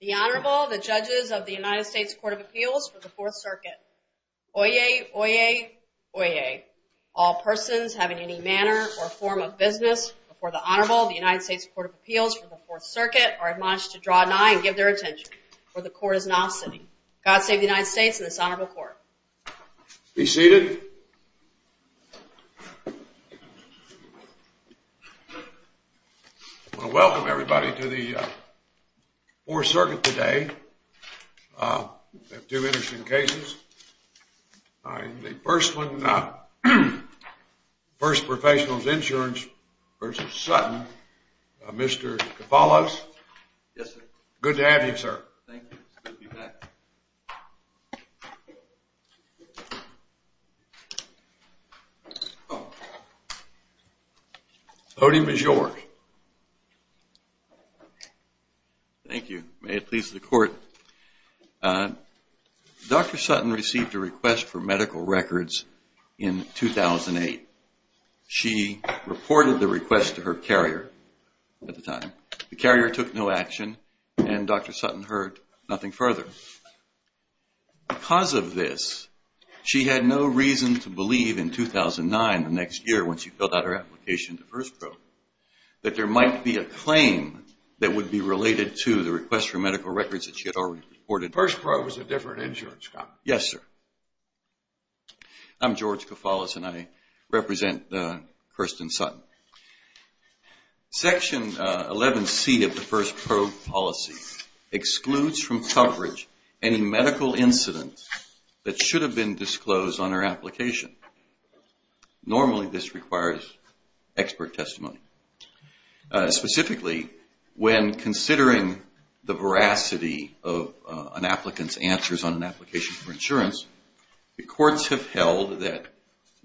The Honorable, the Judges of the United States Court of Appeals for the 4th Circuit. Oyez, oyez, oyez. All persons having any manner or form of business before the Honorable of the United States Court of Appeals for the 4th Circuit are admonished to draw an eye and give their attention, for the Court is not sitting. God save the United States and this Honorable Court. Be seated. I want to welcome everybody to the 4th Circuit today. We have two interesting cases. The first one, First Professionals Insurance v. Sutton, Mr. Cofalos. Mr. Cofalos. Yes, sir. Good to have you, sir. Thank you. It's good to be back. The podium is yours. Thank you. May it please the Court. Dr. Sutton received a request for medical records in 2008. She reported the request to her carrier at the time. The carrier took no action and Dr. Sutton heard nothing further. Because of this, she had no reason to believe in 2009, the next year when she filled out her application to First Probe, that there might be a claim that would be related to the request for medical records that she had already reported. The First Probe is a different insurance company. Yes, sir. I'm George Cofalos and I represent Kirsten Sutton. Section 11C of the First Probe policy excludes from coverage any medical incidents that should have been disclosed on her application. Normally, this requires expert testimony. Specifically, when considering the veracity of an applicant's answers on an application for insurance, the courts have held that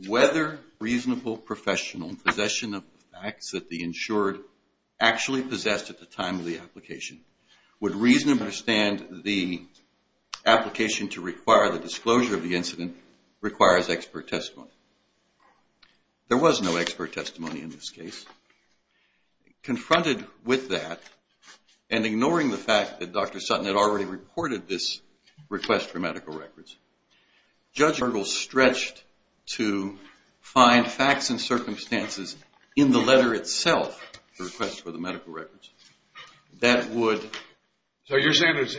whether reasonable professional possession of the facts that the insured actually possessed at the time of the application would reasonably understand the application to require the disclosure of the incident requires expert testimony. There was no expert testimony in this case. Confronted with that, and ignoring the fact that Dr. Sutton had already reported this request for medical records, Judge Gergel stretched to find facts and circumstances in the letter itself, the request for the medical records, that would... That's correct.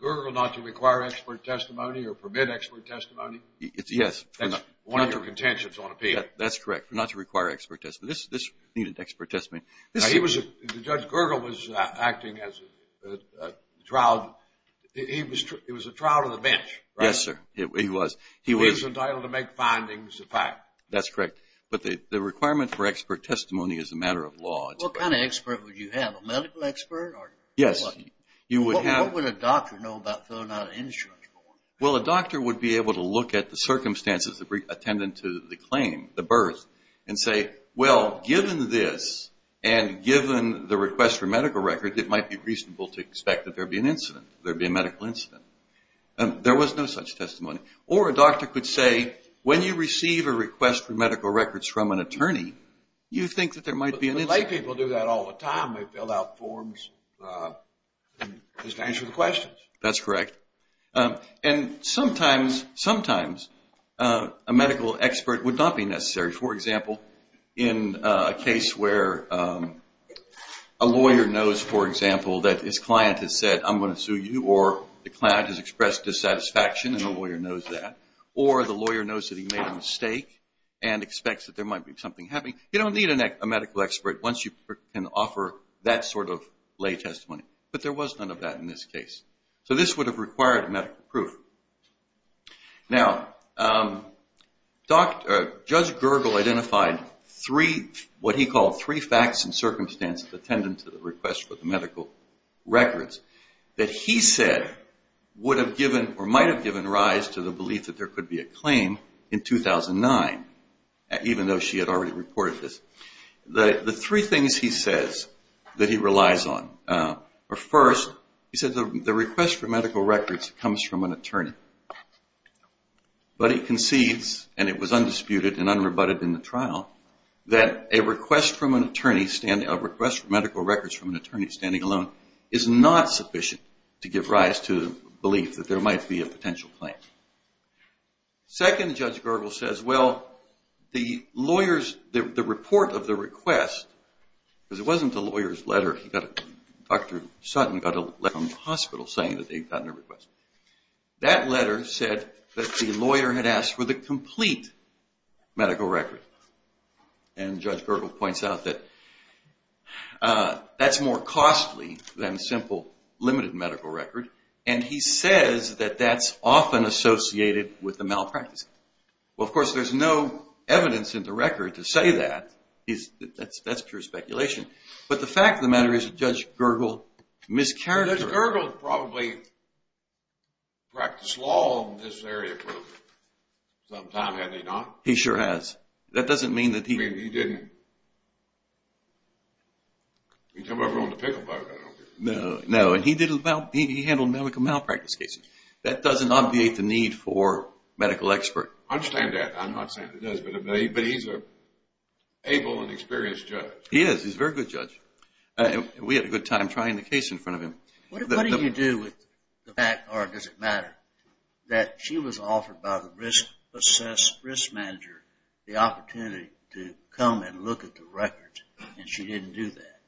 Not to require expert testimony. This needed expert testimony. Judge Gergel was acting as a trial... He was a trial to the bench. Yes, sir. He was. He was entitled to make findings of fact. That's correct. But the requirement for expert testimony is a matter of law. What kind of expert would you have? A medical expert? Yes. What would a doctor know about filling out an insurance form? Well, a doctor would be able to look at the circumstances that were attendant to the claim, the birth, and say, well, given this and given the request for medical records, it might be reasonable to expect that there would be an incident, there would be a medical incident. There was no such testimony. Or a doctor could say, when you receive a request for medical records from an attorney, you think that there might be an incident. But lay people do that all the time. They fill out forms just to answer the questions. That's correct. And sometimes a medical expert would not be necessary. For example, in a case where a lawyer knows, for example, that his client has said, I'm going to sue you, or the client has expressed dissatisfaction and the lawyer knows that, or the lawyer knows that he made a mistake and expects that there might be something happening, you don't need a medical expert once you can offer that sort of lay testimony. But there was none of that in this case. So this would have required medical proof. Now, Judge Gergel identified three, what he called three facts and circumstances attendant to the request for medical records that he said would have given or might have given rise to the belief that there could be a claim in 2009, even though she had already reported this. The three things he says that he relies on are, first, he says the request for medical records comes from an attorney. But he concedes, and it was undisputed and unrebutted in the trial, that a request for medical records from an attorney standing alone is not sufficient to give rise to the belief that there might be a potential claim. Second, Judge Gergel says, well, the report of the request, because it wasn't the lawyer's letter, Dr. Sutton got a letter from the hospital saying that they'd gotten a request, that letter said that the lawyer had asked for the complete medical record. And Judge Gergel points out that that's more costly than a simple limited medical record. And he says that that's often associated with the malpractice. Well, of course, there's no evidence in the record to say that. That's pure speculation. But the fact of the matter is that Judge Gergel miscarried it. Judge Gergel probably practiced law in this area for some time, had he not? He sure has. That doesn't mean that he didn't. He didn't come over on the pickle boat, I don't think. No, and he handled medical malpractice cases. That doesn't obviate the need for a medical expert. I understand that. I'm not saying it does, but he's an able and experienced judge. He is. He's a very good judge. We had a good time trying the case in front of him. What do you do with the fact, or does it matter, that she was offered by the risk assess, risk manager, the opportunity to come and look at the records, and she didn't do that?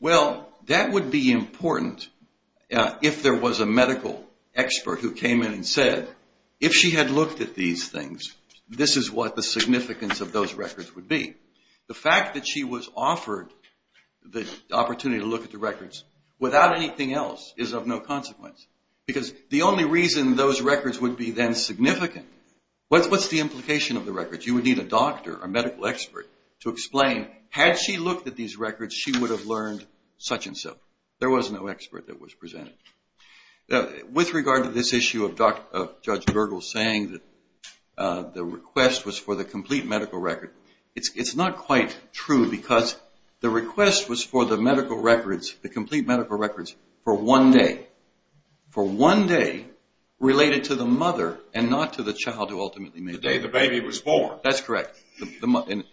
Well, that would be important if there was a medical expert who came in and said, if she had looked at these things, this is what the significance of those records would be. The fact that she was offered the opportunity to look at the records without anything else is of no consequence. Because the only reason those records would be then significant, what's the implication of the records? You would need a doctor, a medical expert, to explain, had she looked at these records, she would have learned such and such. There was no expert that was presented. With regard to this issue of Judge Bergel saying that the request was for the complete medical record, it's not quite true because the request was for the medical records, the complete medical records, for one day. For one day related to the mother and not to the child who ultimately made the request. The day the baby was born. And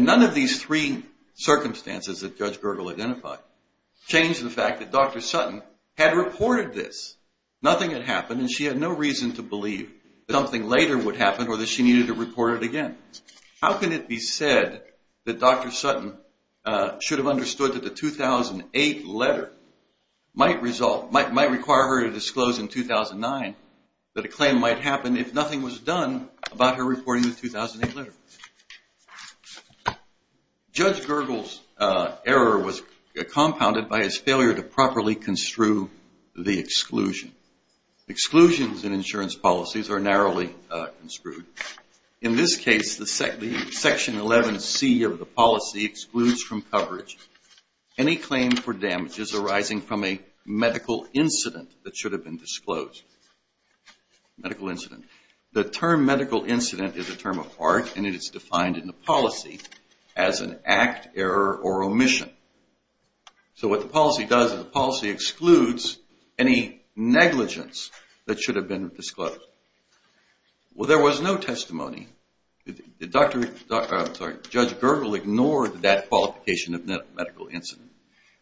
none of these three circumstances that Judge Bergel identified changed the fact that Dr. Sutton had reported this. Nothing had happened, and she had no reason to believe that something later would happen or that she needed to report it again. How can it be said that Dr. Sutton should have understood that the 2008 letter might require her to disclose in 2009 that a claim might happen if nothing was done about her reporting the 2008 letter? Judge Bergel's error was compounded by his failure to properly construe the exclusion. Exclusions in insurance policies are narrowly construed. In this case, the Section 11C of the policy excludes from coverage any claim for damages arising from a medical incident that should have been disclosed. The term medical incident is a term of art and it is defined in the policy as an act, error, or omission. So what the policy does is the policy excludes any negligence that should have been disclosed. Well, there was no testimony. Judge Bergel ignored that qualification of medical incident.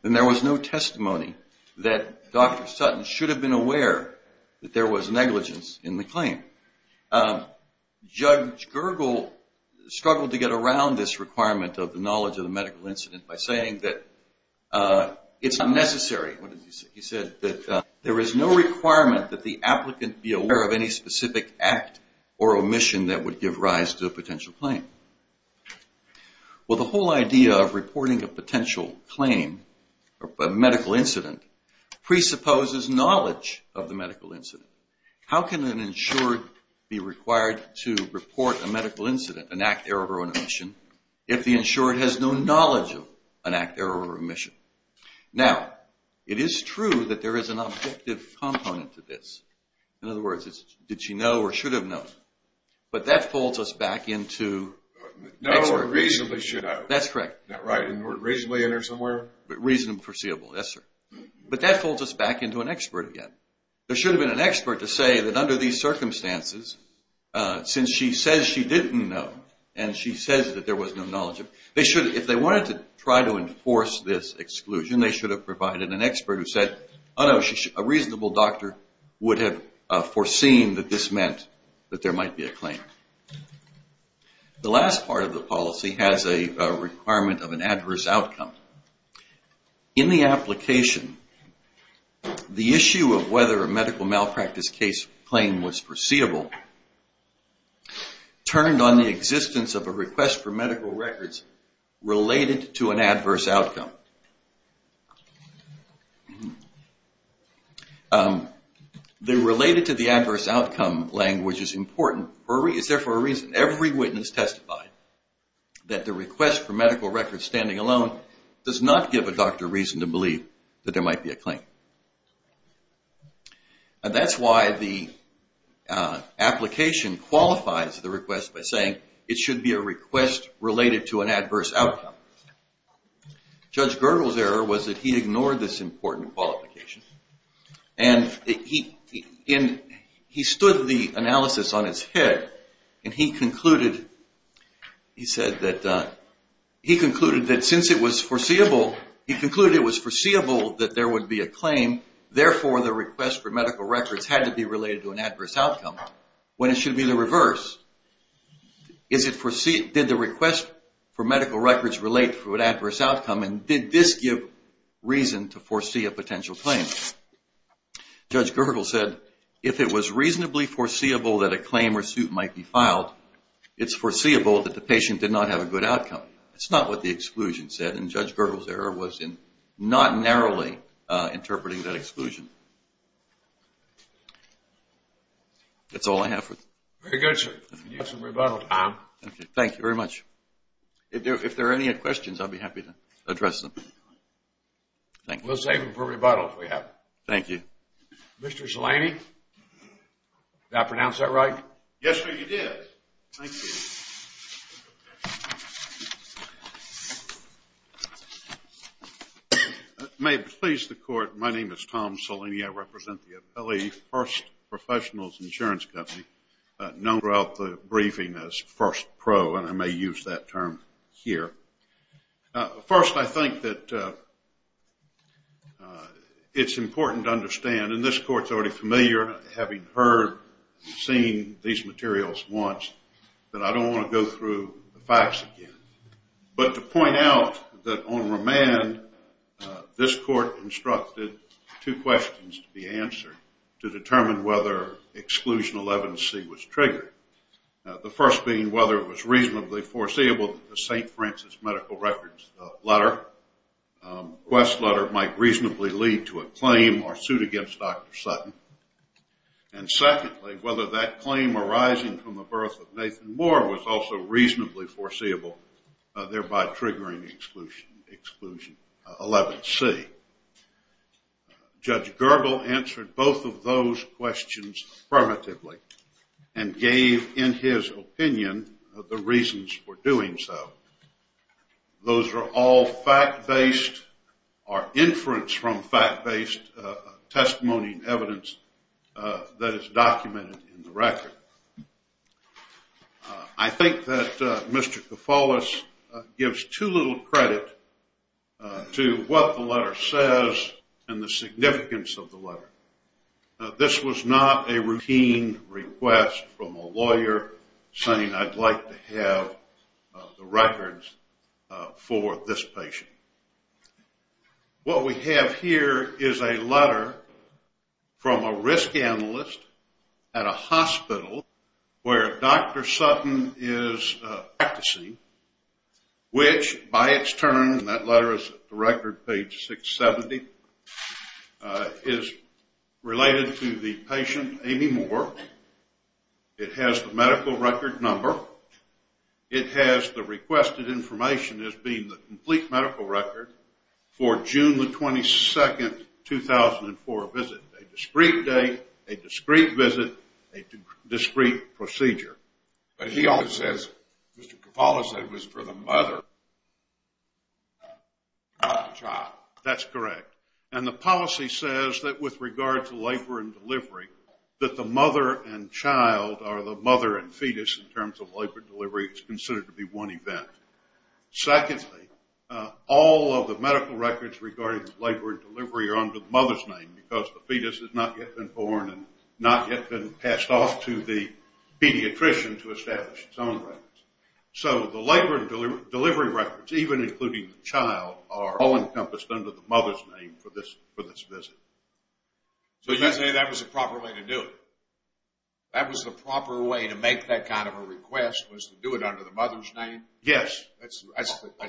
And there was no testimony that Dr. Sutton should have been aware that there was negligence in the claim. Judge Bergel struggled to get around this requirement of the knowledge of the medical incident by saying that it's unnecessary. He said that there is no requirement that the applicant be aware of any specific act or omission that would give rise to a potential claim. Well, the whole idea of reporting a potential claim, a medical incident, presupposes knowledge of the medical incident. How can an insured be required to report a medical incident, an act, error, or omission, if the insured has no knowledge of an act, error, or omission? Now, it is true that there is an objective component to this. In other words, did she know or should have known? But that pulls us back into an expert. The last part of the policy has a requirement of an adverse outcome. In the application, the issue of whether a medical malpractice case is a medical malpractice case is a medical malpractice case. If the medical malpractice case claim was foreseeable, it turned on the existence of a request for medical records related to an adverse outcome. Related to the adverse outcome language is important. Every witness testified that the request for medical records standing alone does not give a doctor reason to believe that there might be a claim. And that's why the application qualifies the request by saying it should be a request related to an adverse outcome. Judge Gergel's error was that he ignored this important qualification and he stood the analysis on his head and he concluded that since it was foreseeable, he concluded it was foreseeable that there would be a claim. Therefore, the request for medical records had to be related to an adverse outcome. When it should be the reverse, did the request for medical records relate to an adverse outcome and did this give reason to foresee a potential claim? Judge Gergel said if it was reasonably foreseeable that a claim or suit might be filed, it's foreseeable that the patient did not have a good outcome. It's not what the exclusion said and Judge Gergel's error was in not narrowly interpreting that exclusion. That's all I have for today. Thank you very much. If there are any questions, I'll be happy to address them. We'll save them for rebuttal if we have to. Thank you. Mr. Cellini, did I pronounce that right? Yes, sir, you did. Thank you. May it please the court, my name is Tom Cellini. I represent the Appellee First Professionals Insurance Company known throughout the briefing as First Pro and I may use that term here. First, I think that it's important to understand and this court is already familiar having heard and seen these materials once that I don't want to go through the facts again. But to point out that on remand, this court instructed two questions to be answered to determine whether exclusion 11C was triggered. The first being whether it was reasonably foreseeable that the St. Francis medical records letter, request letter might reasonably lead to a claim or suit against Dr. Sutton. And secondly, whether that claim arising from the birth of Nathan Moore was also reasonably foreseeable, thereby triggering exclusion 11C. Judge Gerbel answered both of those questions primitively and gave in his opinion the reasons for doing so. Those are all fact-based or inference from fact-based testimony and evidence that is documented in the record. I think that Mr. Koufalos gives too little credit to what the letter says and the significance of the letter. This was not a routine request from a lawyer saying I'd like to have the records for this patient. What we have here is a letter from a risk analyst at a hospital where Dr. Sutton is practicing, which by its turn, and that letter is at the record page 670, is related to the patient Amy Moore. It has the medical record number. It has the requested information as being the complete medical record for June the 22nd, 2004 visit. A discreet date, a discreet visit, a discreet procedure. But he also says, Mr. Koufalos said it was for the mother, not the child. That's correct. And the policy says that with regard to labor and delivery, that the mother and child or the mother and fetus in terms of labor and delivery is considered to be one event. Secondly, all of the medical records regarding labor and delivery are under the mother's name because the fetus has not yet been born and not yet been passed off to the pediatrician to establish its own records. So the labor and delivery records, even including the child, are all encompassed under the mother's name for this visit. So you're saying that was the proper way to do it? That was the proper way to make that kind of a request, was to do it under the mother's name? Yes.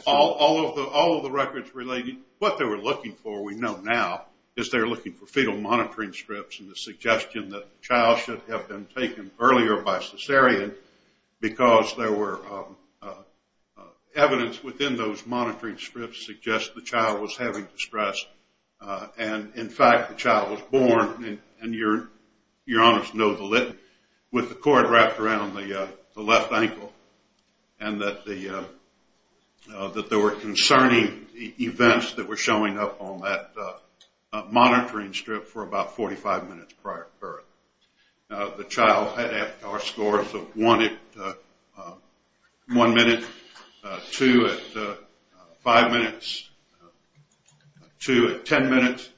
All of the records related, what they were looking for, we know now, is they were looking for fetal monitoring strips and the suggestion that the child should have been taken earlier by cesarean because there were evidence within those monitoring strips suggesting the child was having distress. And in fact, the child was born, and you're honest to know the litany, with the cord wrapped around the left ankle and that there were concerning events that were showing up on that monitoring strip for about 45 minutes prior to birth. The child had AFCAR scores of 1 at 1 minute, 2 at 5 minutes, 2 at 10 minutes,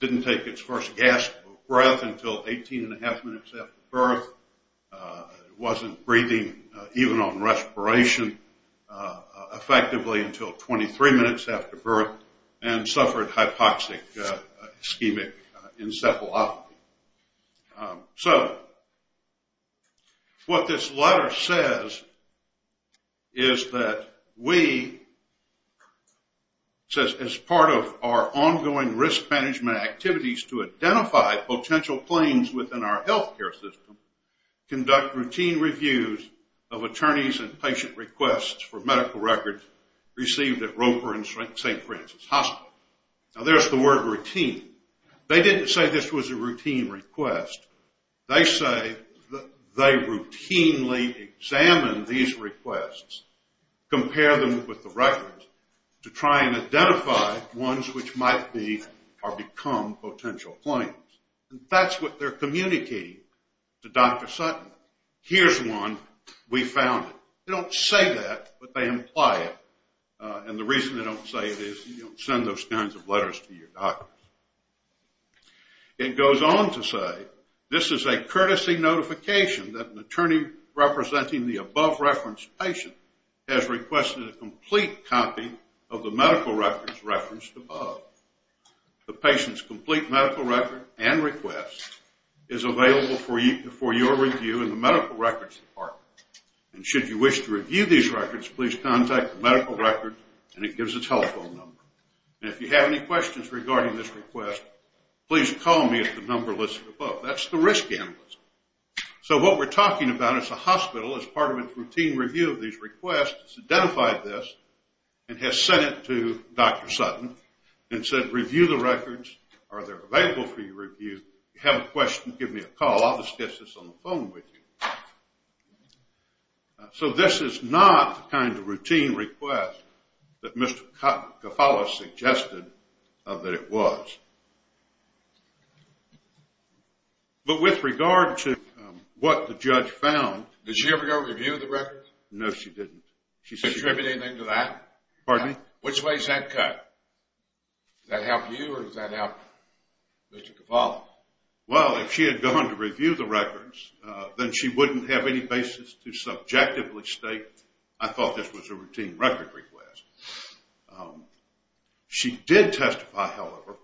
didn't take its first gasp of breath until 18 and a half minutes after birth, wasn't breathing even on respiration effectively until 23 minutes after birth, and suffered hypoxic ischemic encephalopathy. So what this letter says is that we, as part of our ongoing risk management activities to identify potential claims within our health care system, conduct routine reviews of attorneys and patient requests for medical records received at Roper and St. Francis Hospital. Now there's the word routine. They didn't say this was a routine request. They say they routinely examine these requests, compare them with the records to try and identify ones which might be or become potential claims. And that's what they're communicating to Dr. Sutton. Here's one. We found it. They don't say that, but they imply it. And the reason they don't say it is you don't send those kinds of letters to your doctors. It goes on to say, this is a courtesy notification that an attorney representing the above-referenced patient has requested a complete copy of the medical records referenced above. The patient's complete medical record and request is available for your review in the medical records department. And should you wish to review these records, please contact the medical records, and it gives a telephone number. And if you have any questions regarding this request, please call me at the number listed above. That's the risk analyst. So what we're talking about is the hospital, as part of its routine review of these requests, has identified this and has sent it to Dr. Sutton and said, review the records. Are they available for your review? If you have a question, give me a call. I'll discuss this on the phone with you. So this is not the kind of routine request that Mr. Cofalo suggested that it was. But with regard to what the judge found. Did she ever go and review the records? No, she didn't. Did she attribute anything to that? Pardon me? Which way is that cut? Does that help you or does that help Mr. Cofalo? Well, if she had gone to review the records, then she wouldn't have any basis to subjectively state, I thought this was a routine record request. She did testify, however.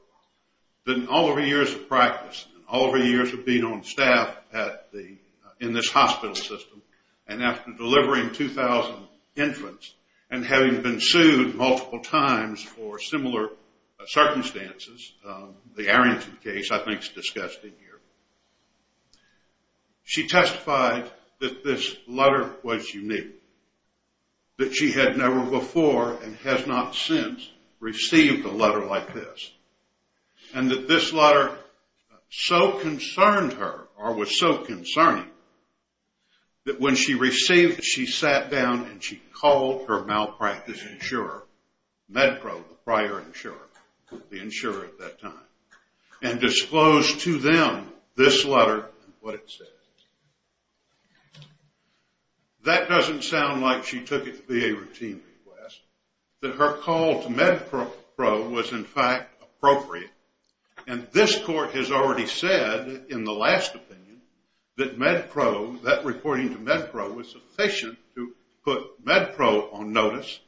But in all of her years of practice, in all of her years of being on staff in this hospital system, and after delivering 2,000 infants and having been sued multiple times for similar circumstances, the Arrington case I think is discussed in here. She testified that this letter was unique, that she had never before and has not since received a letter like this. And that this letter so concerned her or was so concerning that when she received it, she sat down and she called her malpractice insurer, MedPro, the prior insurer, the insurer at that time, and disclosed to them this letter and what it said. That doesn't sound like she took it to be a routine request, that her call to MedPro was in fact appropriate. And this court has already said in the last opinion that MedPro, that reporting to MedPro was sufficient to put MedPro on notice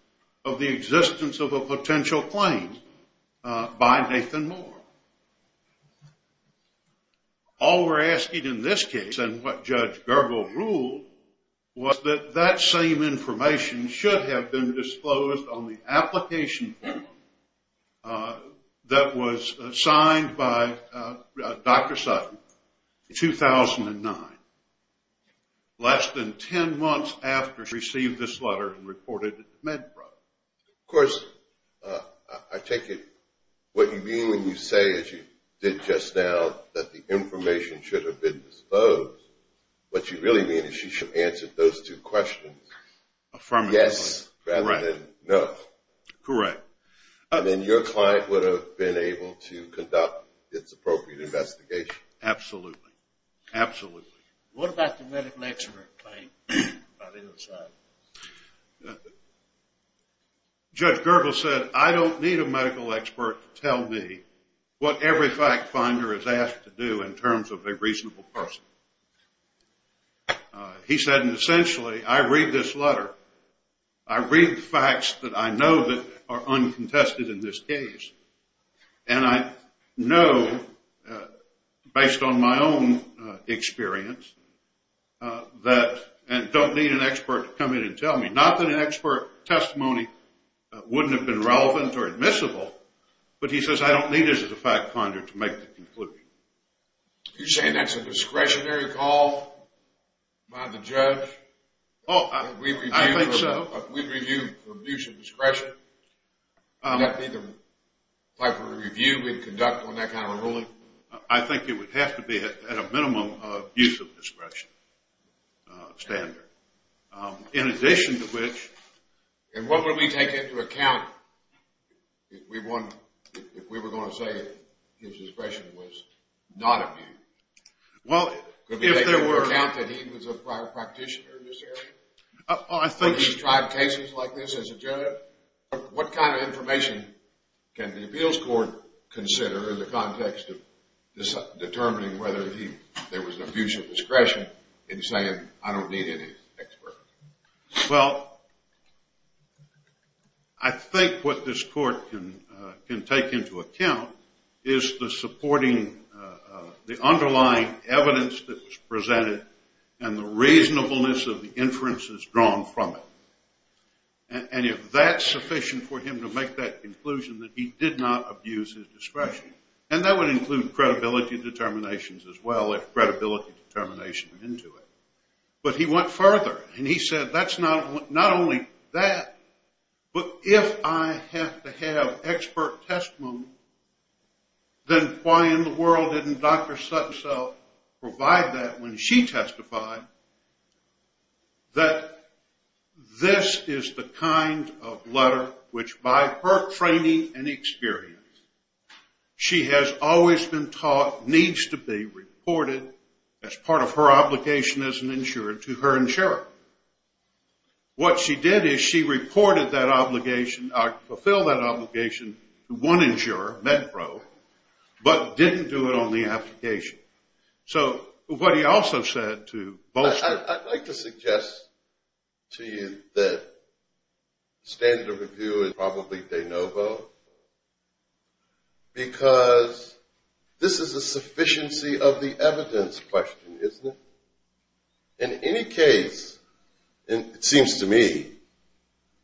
of the existence of a potential claim by Nathan Moore. All we're asking in this case and what Judge Gergel ruled was that that same information should have been disclosed on the application form that was signed by Dr. Sutton in 2009, less than 10 months after she received this letter and reported it to MedPro. Of course, I take it what you mean when you say, as you did just now, that the information should have been disclosed. What you really mean is she should have answered those two questions, yes rather than no. Correct. Then your client would have been able to conduct its appropriate investigation. Absolutely. Absolutely. What about the medical expert claim by the other side? Judge Gergel said, I don't need a medical expert to tell me what every fact finder is asked to do in terms of a reasonable person. He said, essentially, I read this letter, I read the facts that I know that are uncontested in this case, and I know, based on my own experience, that I don't need an expert to come in and tell me. Not that an expert testimony wouldn't have been relevant or admissible, but he says, I don't need this as a fact finder to make the conclusion. You're saying that's a discretionary call by the judge? I think so. We'd review for abuse of discretion. That would be the type of review we'd conduct on that kind of ruling? I think it would have to be at a minimum abuse of discretion standard. In addition to which... And what would we take into account if we were going to say his discretion was not abused? Could we take into account that he was a prior practitioner in this area? I think... Would he strive cases like this as a judge? What kind of information can the appeals court consider in the context of determining whether there was an abuse of discretion in saying, I don't need any expert? Well, I think what this court can take into account is the underlying evidence that was presented and the reasonableness of the inferences drawn from it. And if that's sufficient for him to make that conclusion that he did not abuse his discretion, and that would include credibility determinations as well if credibility determination is into it. But he went further, and he said that's not only that, but if I have to have expert testimony, then why in the world didn't Dr. Sutton provide that when she testified that this is the kind of letter which by her training and experience, she has always been taught needs to be reported as part of her obligation as an insurer to her insurer. What she did is she reported that obligation or fulfilled that obligation to one insurer, MedPro, but didn't do it on the application. I'd like to suggest to you that standard of review is probably de novo because this is a sufficiency of the evidence question, isn't it? In any case, it seems to me,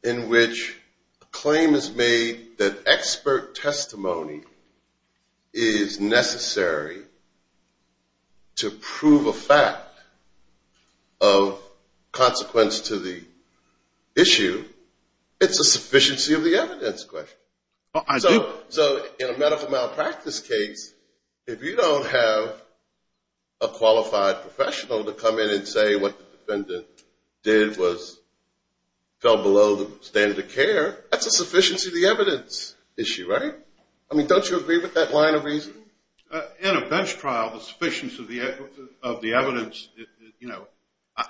in which a claim is made that expert testimony is necessary to prove a fact of consequence to the issue, it's a sufficiency of the evidence question. So in a medical malpractice case, if you don't have a qualified professional to come in and say what the defendant did was fell below the standard of care, that's a sufficiency of the evidence issue, right? I mean, don't you agree with that line of reasoning? In a bench trial, the sufficiency of the evidence, you know,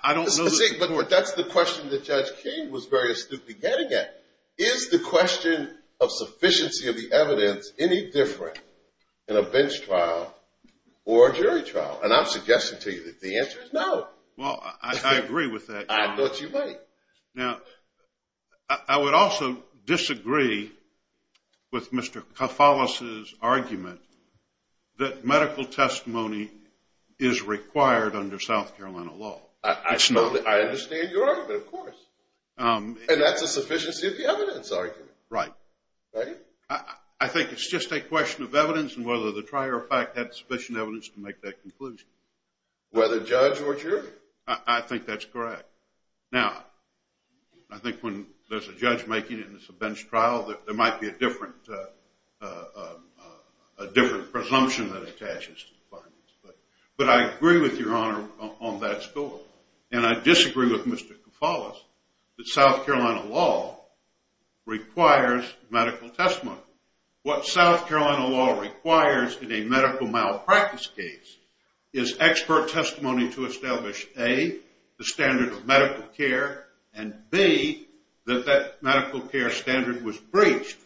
I don't know. But that's the question that Judge King was very astutely getting at. Is the question of sufficiency of the evidence any different in a bench trial or a jury trial? And I'm suggesting to you that the answer is no. Well, I agree with that. I thought you might. Now, I would also disagree with Mr. Cofalas' argument that medical testimony is required under South Carolina law. I understand your argument, of course. And that's a sufficiency of the evidence argument. Right. Right? I think it's just a question of evidence and whether the prior fact had sufficient evidence to make that conclusion. Whether judge or jury? I think that's correct. Now, I think when there's a judge making it in a bench trial, there might be a different presumption that attaches to the findings. But I agree with your honor on that score. And I disagree with Mr. Cofalas that South Carolina law requires medical testimony. What South Carolina law requires in a medical malpractice case is expert testimony to establish, A, the standard of medical care, and, B, that that medical care standard was breached.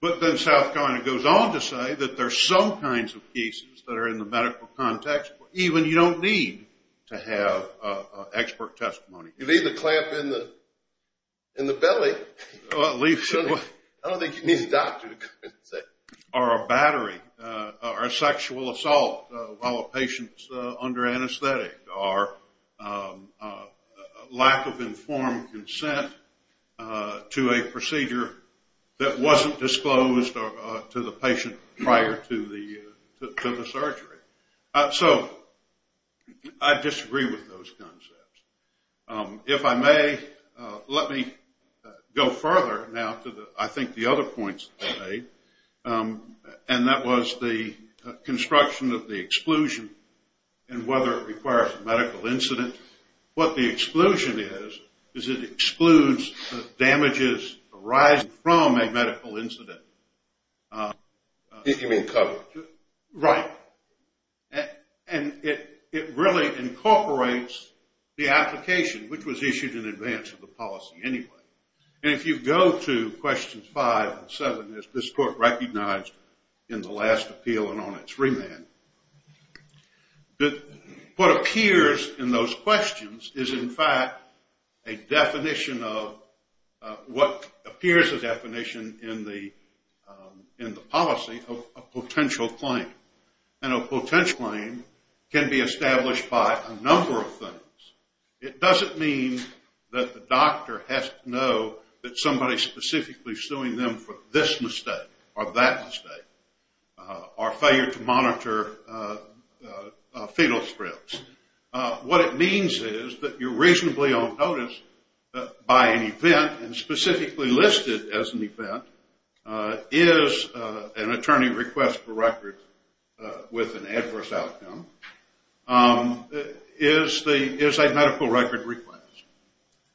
But then South Carolina goes on to say that there's some kinds of cases that are in the medical context where even you don't need to have expert testimony. You leave the clamp in the belly. I don't think you need a doctor to come in and say it. or a sexual assault while a patient's under anesthetic, or lack of informed consent to a procedure that wasn't disclosed to the patient prior to the surgery. So I disagree with those concepts. If I may, let me go further now to, I think, the other points that were made. And that was the construction of the exclusion and whether it requires a medical incident. What the exclusion is, is it excludes the damages arising from a medical incident. You mean coverage? Right. And it really incorporates the application, which was issued in advance of the policy anyway. And if you go to questions five and seven, as this court recognized in the last appeal and on its remand, that what appears in those questions is, in fact, a definition of what appears a definition in the policy of a potential claim. And a potential claim can be established by a number of things. It doesn't mean that the doctor has to know that somebody's specifically suing them for this mistake or that mistake, or failure to monitor fetal strips. What it means is that you're reasonably on notice by an event, and specifically listed as an event, is an attorney request for record with an adverse outcome, is a medical record request.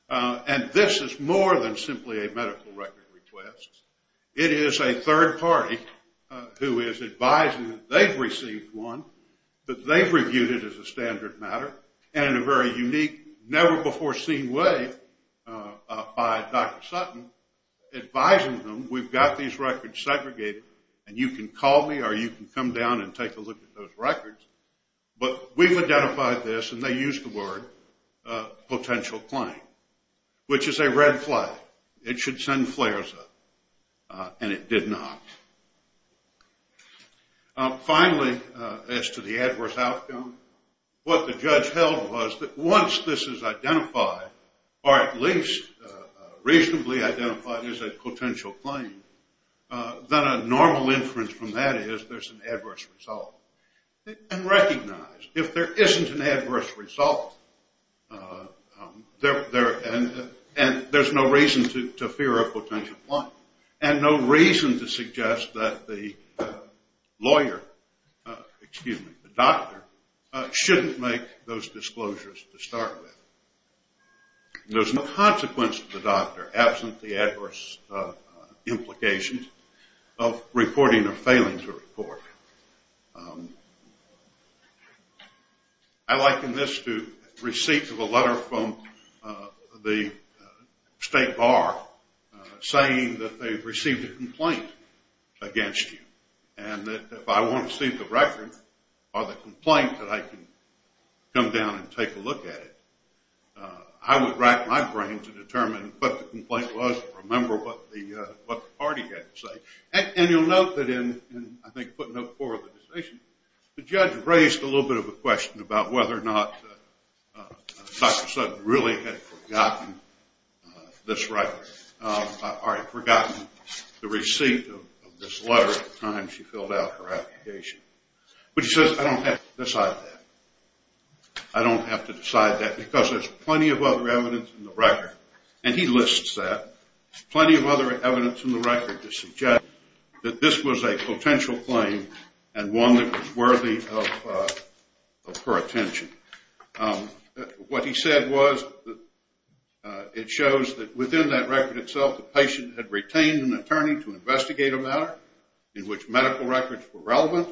And this is more than simply a medical record request. It is a third party who is advising that they've received one, that they've reviewed it as a standard matter, and in a very unique, never-before-seen way by Dr. Sutton, advising them, we've got these records segregated, and you can call me or you can come down and take a look at those records. But we've identified this, and they use the word, potential claim, which is a red flag. It should send flares up, and it did not. Finally, as to the adverse outcome, what the judge held was that once this is identified, or at least reasonably identified as a potential claim, then a normal inference from that is there's an adverse result. And recognize, if there isn't an adverse result, and there's no reason to fear a potential claim, and no reason to suggest that the lawyer, excuse me, the doctor, shouldn't make those disclosures to start with. There's no consequence to the doctor, absent the adverse implications of reporting or failing to report. I liken this to receipts of a letter from the state bar saying that they've received a complaint against you, and that if I want to see the record or the complaint, that I can come down and take a look at it. I would rack my brain to determine what the complaint was and remember what the party had to say. And you'll note that in, I think, footnote four of the decision, the judge raised a little bit of a question about whether or not Dr. Sutton really had forgotten this record, or had forgotten the receipt of this letter at the time she filled out her application. But she says, I don't have to decide that. I don't have to decide that because there's plenty of other evidence in the record. And he lists that, plenty of other evidence in the record to suggest that this was a potential claim and one that was worthy of her attention. What he said was that it shows that within that record itself, the patient had retained an attorney to investigate a matter in which medical records were relevant,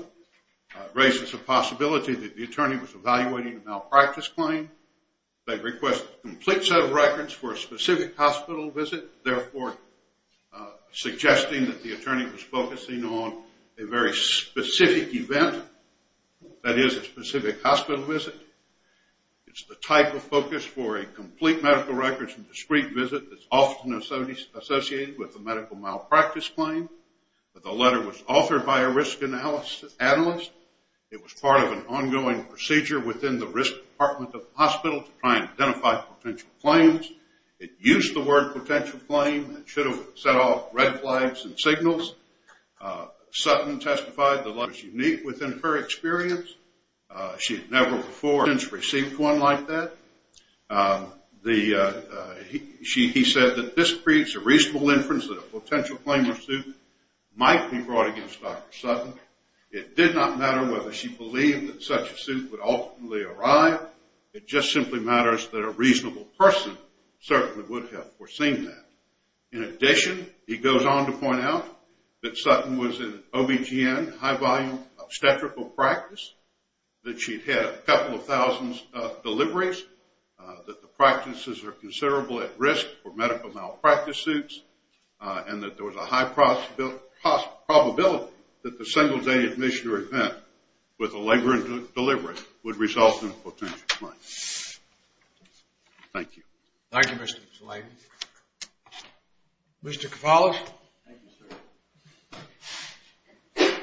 raises the possibility that the attorney was evaluating a malpractice claim. They request a complete set of records for a specific hospital visit, therefore suggesting that the attorney was focusing on a very specific event, that is, a specific hospital visit. It's the type of focus for a complete medical records and discreet visit that's often associated with a medical malpractice claim. But the letter was authored by a risk analyst. It was part of an ongoing procedure within the risk department of the hospital to try and identify potential claims. It used the word potential claim and should have set off red flags and signals. Sutton testified the letter was unique within her experience. She had never before since received one like that. He said that this creates a reasonable inference that a potential claim or suit might be brought against Dr. Sutton. It did not matter whether she believed that such a suit would ultimately arrive. It just simply matters that a reasonable person certainly would have foreseen that. In addition, he goes on to point out that Sutton was in OBGN, high-volume obstetrical practice, that she'd had a couple of thousands of deliveries, that the practices are considerable at risk for medical malpractice suits, and that there was a high probability that the single-day admission or event with a labor and delivery would result in a potential claim. Thank you. Thank you, Mr. Zellig. Mr. Cavallo. Thank you, sir. Thank you.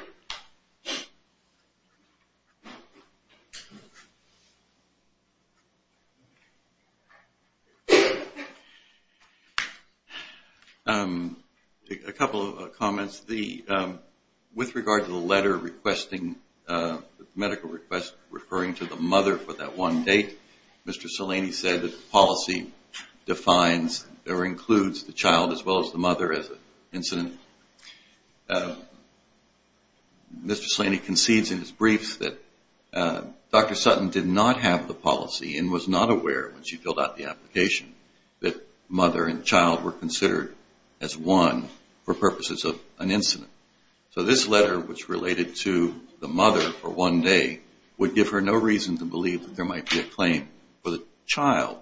A couple of comments. With regard to the letter requesting medical requests referring to the mother for that one date, Mr. Salani said that the policy defines or includes the child as well as the mother as an incident. Mr. Salani concedes in his briefs that Dr. Sutton did not have the policy and was not aware when she filled out the application that mother and child were considered as one for purposes of an incident. So this letter, which related to the mother for one day, would give her no reason to believe that there might be a claim for the child.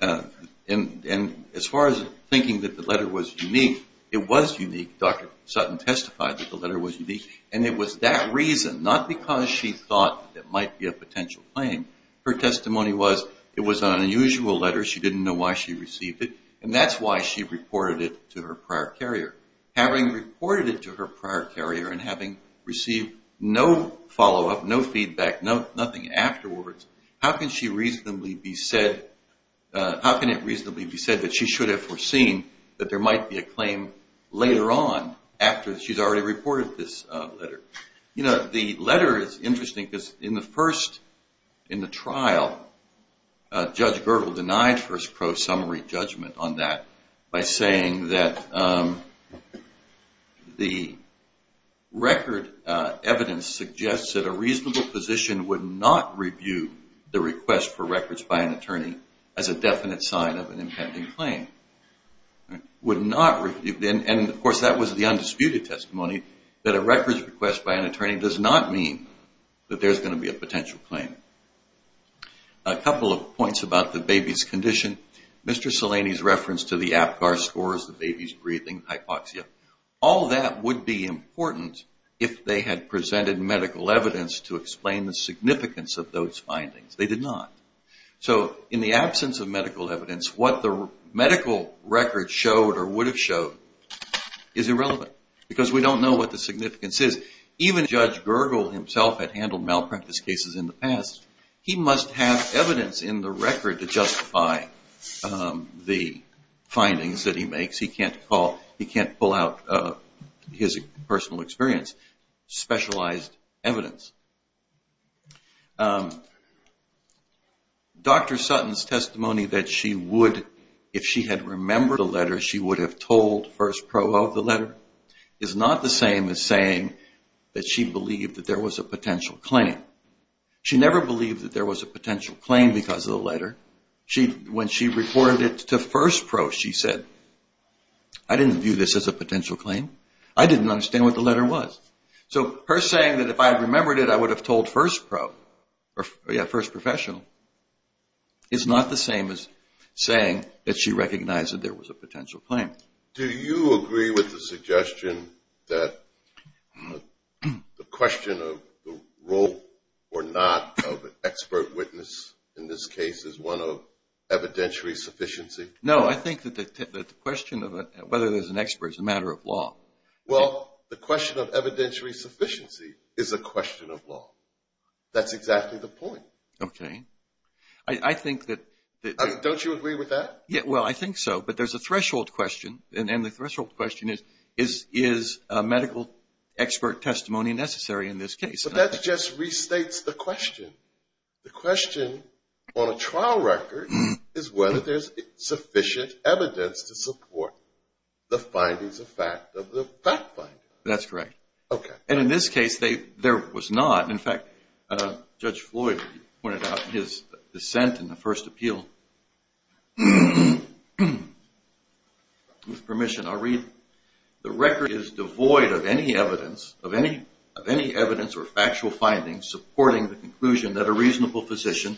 And as far as thinking that the letter was unique, it was unique. Dr. Sutton testified that the letter was unique, and it was that reason, not because she thought there might be a potential claim. Her testimony was it was an unusual letter. She didn't know why she received it, and that's why she reported it to her prior carrier. Having reported it to her prior carrier and having received no follow-up, no feedback, nothing afterwards, how can it reasonably be said that she should have foreseen that there might be a claim later on after she's already reported this letter? You know, the letter is interesting because in the first, in the trial, Judge Girdle denied first pro-summary judgment on that by saying that the record evidence suggests that a reasonable physician would not review the request for records by an attorney as a definite sign of an impending claim. Would not review, and of course that was the undisputed testimony, that a records request by an attorney does not mean that there's going to be a potential claim. A couple of points about the baby's condition. Mr. Salini's reference to the APGAR scores, the baby's breathing, hypoxia. All that would be important if they had presented medical evidence to explain the significance of those findings. They did not. So in the absence of medical evidence, what the medical record showed or would have showed is irrelevant because we don't know what the significance is. Even Judge Girdle himself had handled malpractice cases in the past. He must have evidence in the record to justify the findings that he makes. He can't pull out his personal experience. Specialized evidence. Dr. Sutton's testimony that she would, if she had remembered the letter, she would have told first pro of the letter is not the same as saying that she believed that there was a potential claim. She never believed that there was a potential claim because of the letter. When she reported it to first pro, she said, I didn't view this as a potential claim. I didn't understand what the letter was. So her saying that if I had remembered it, I would have told first pro, first professional, is not the same as saying that she recognized that there was a potential claim. Do you agree with the suggestion that the question of the role or not of an expert witness in this case is one of evidentiary sufficiency? No, I think that the question of whether there's an expert is a matter of law. Well, the question of evidentiary sufficiency is a question of law. That's exactly the point. Okay. I think that... Don't you agree with that? Well, I think so. But there's a threshold question, and the threshold question is, is medical expert testimony necessary in this case? But that just restates the question. The question on a trial record is whether there's sufficient evidence to support the findings of fact of the fact finder. That's correct. Okay. And in this case, there was not. In fact, Judge Floyd pointed out in his dissent in the first appeal, with permission, I'll read, the record is devoid of any evidence or factual findings supporting the conclusion that a reasonable physician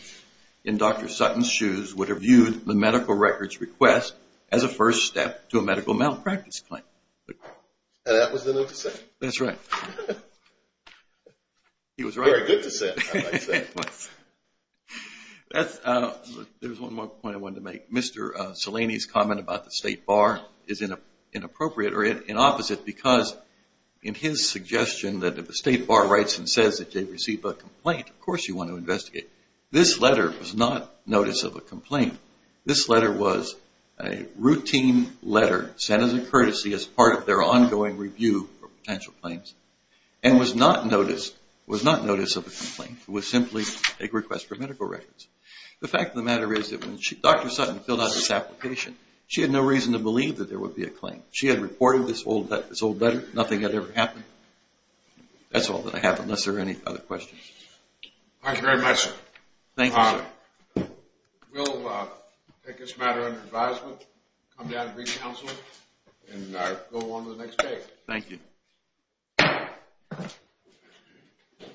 in Dr. Sutton's shoes would have viewed the medical record's request as a first step to a medical malpractice claim. And that was the move to say? That's right. He was right. Very good dissent, I might say. There's one more point I wanted to make. Mr. Salini's comment about the State Bar is inappropriate, or inopposite, because in his suggestion that if the State Bar writes and says that they've received a complaint, of course you want to investigate. This letter was not notice of a complaint. This letter was a routine letter sent as a courtesy as part of their ongoing review of potential claims and was not notice of a complaint. It was simply a request for medical records. The fact of the matter is that when Dr. Sutton filled out this application, she had no reason to believe that there would be a claim. She had reported this old letter. Nothing had ever happened. That's all that I have, unless there are any other questions. Thank you very much, sir. Thank you, sir. We'll take this matter under advisement, come down and re-counsel, and go on to the next page. Thank you.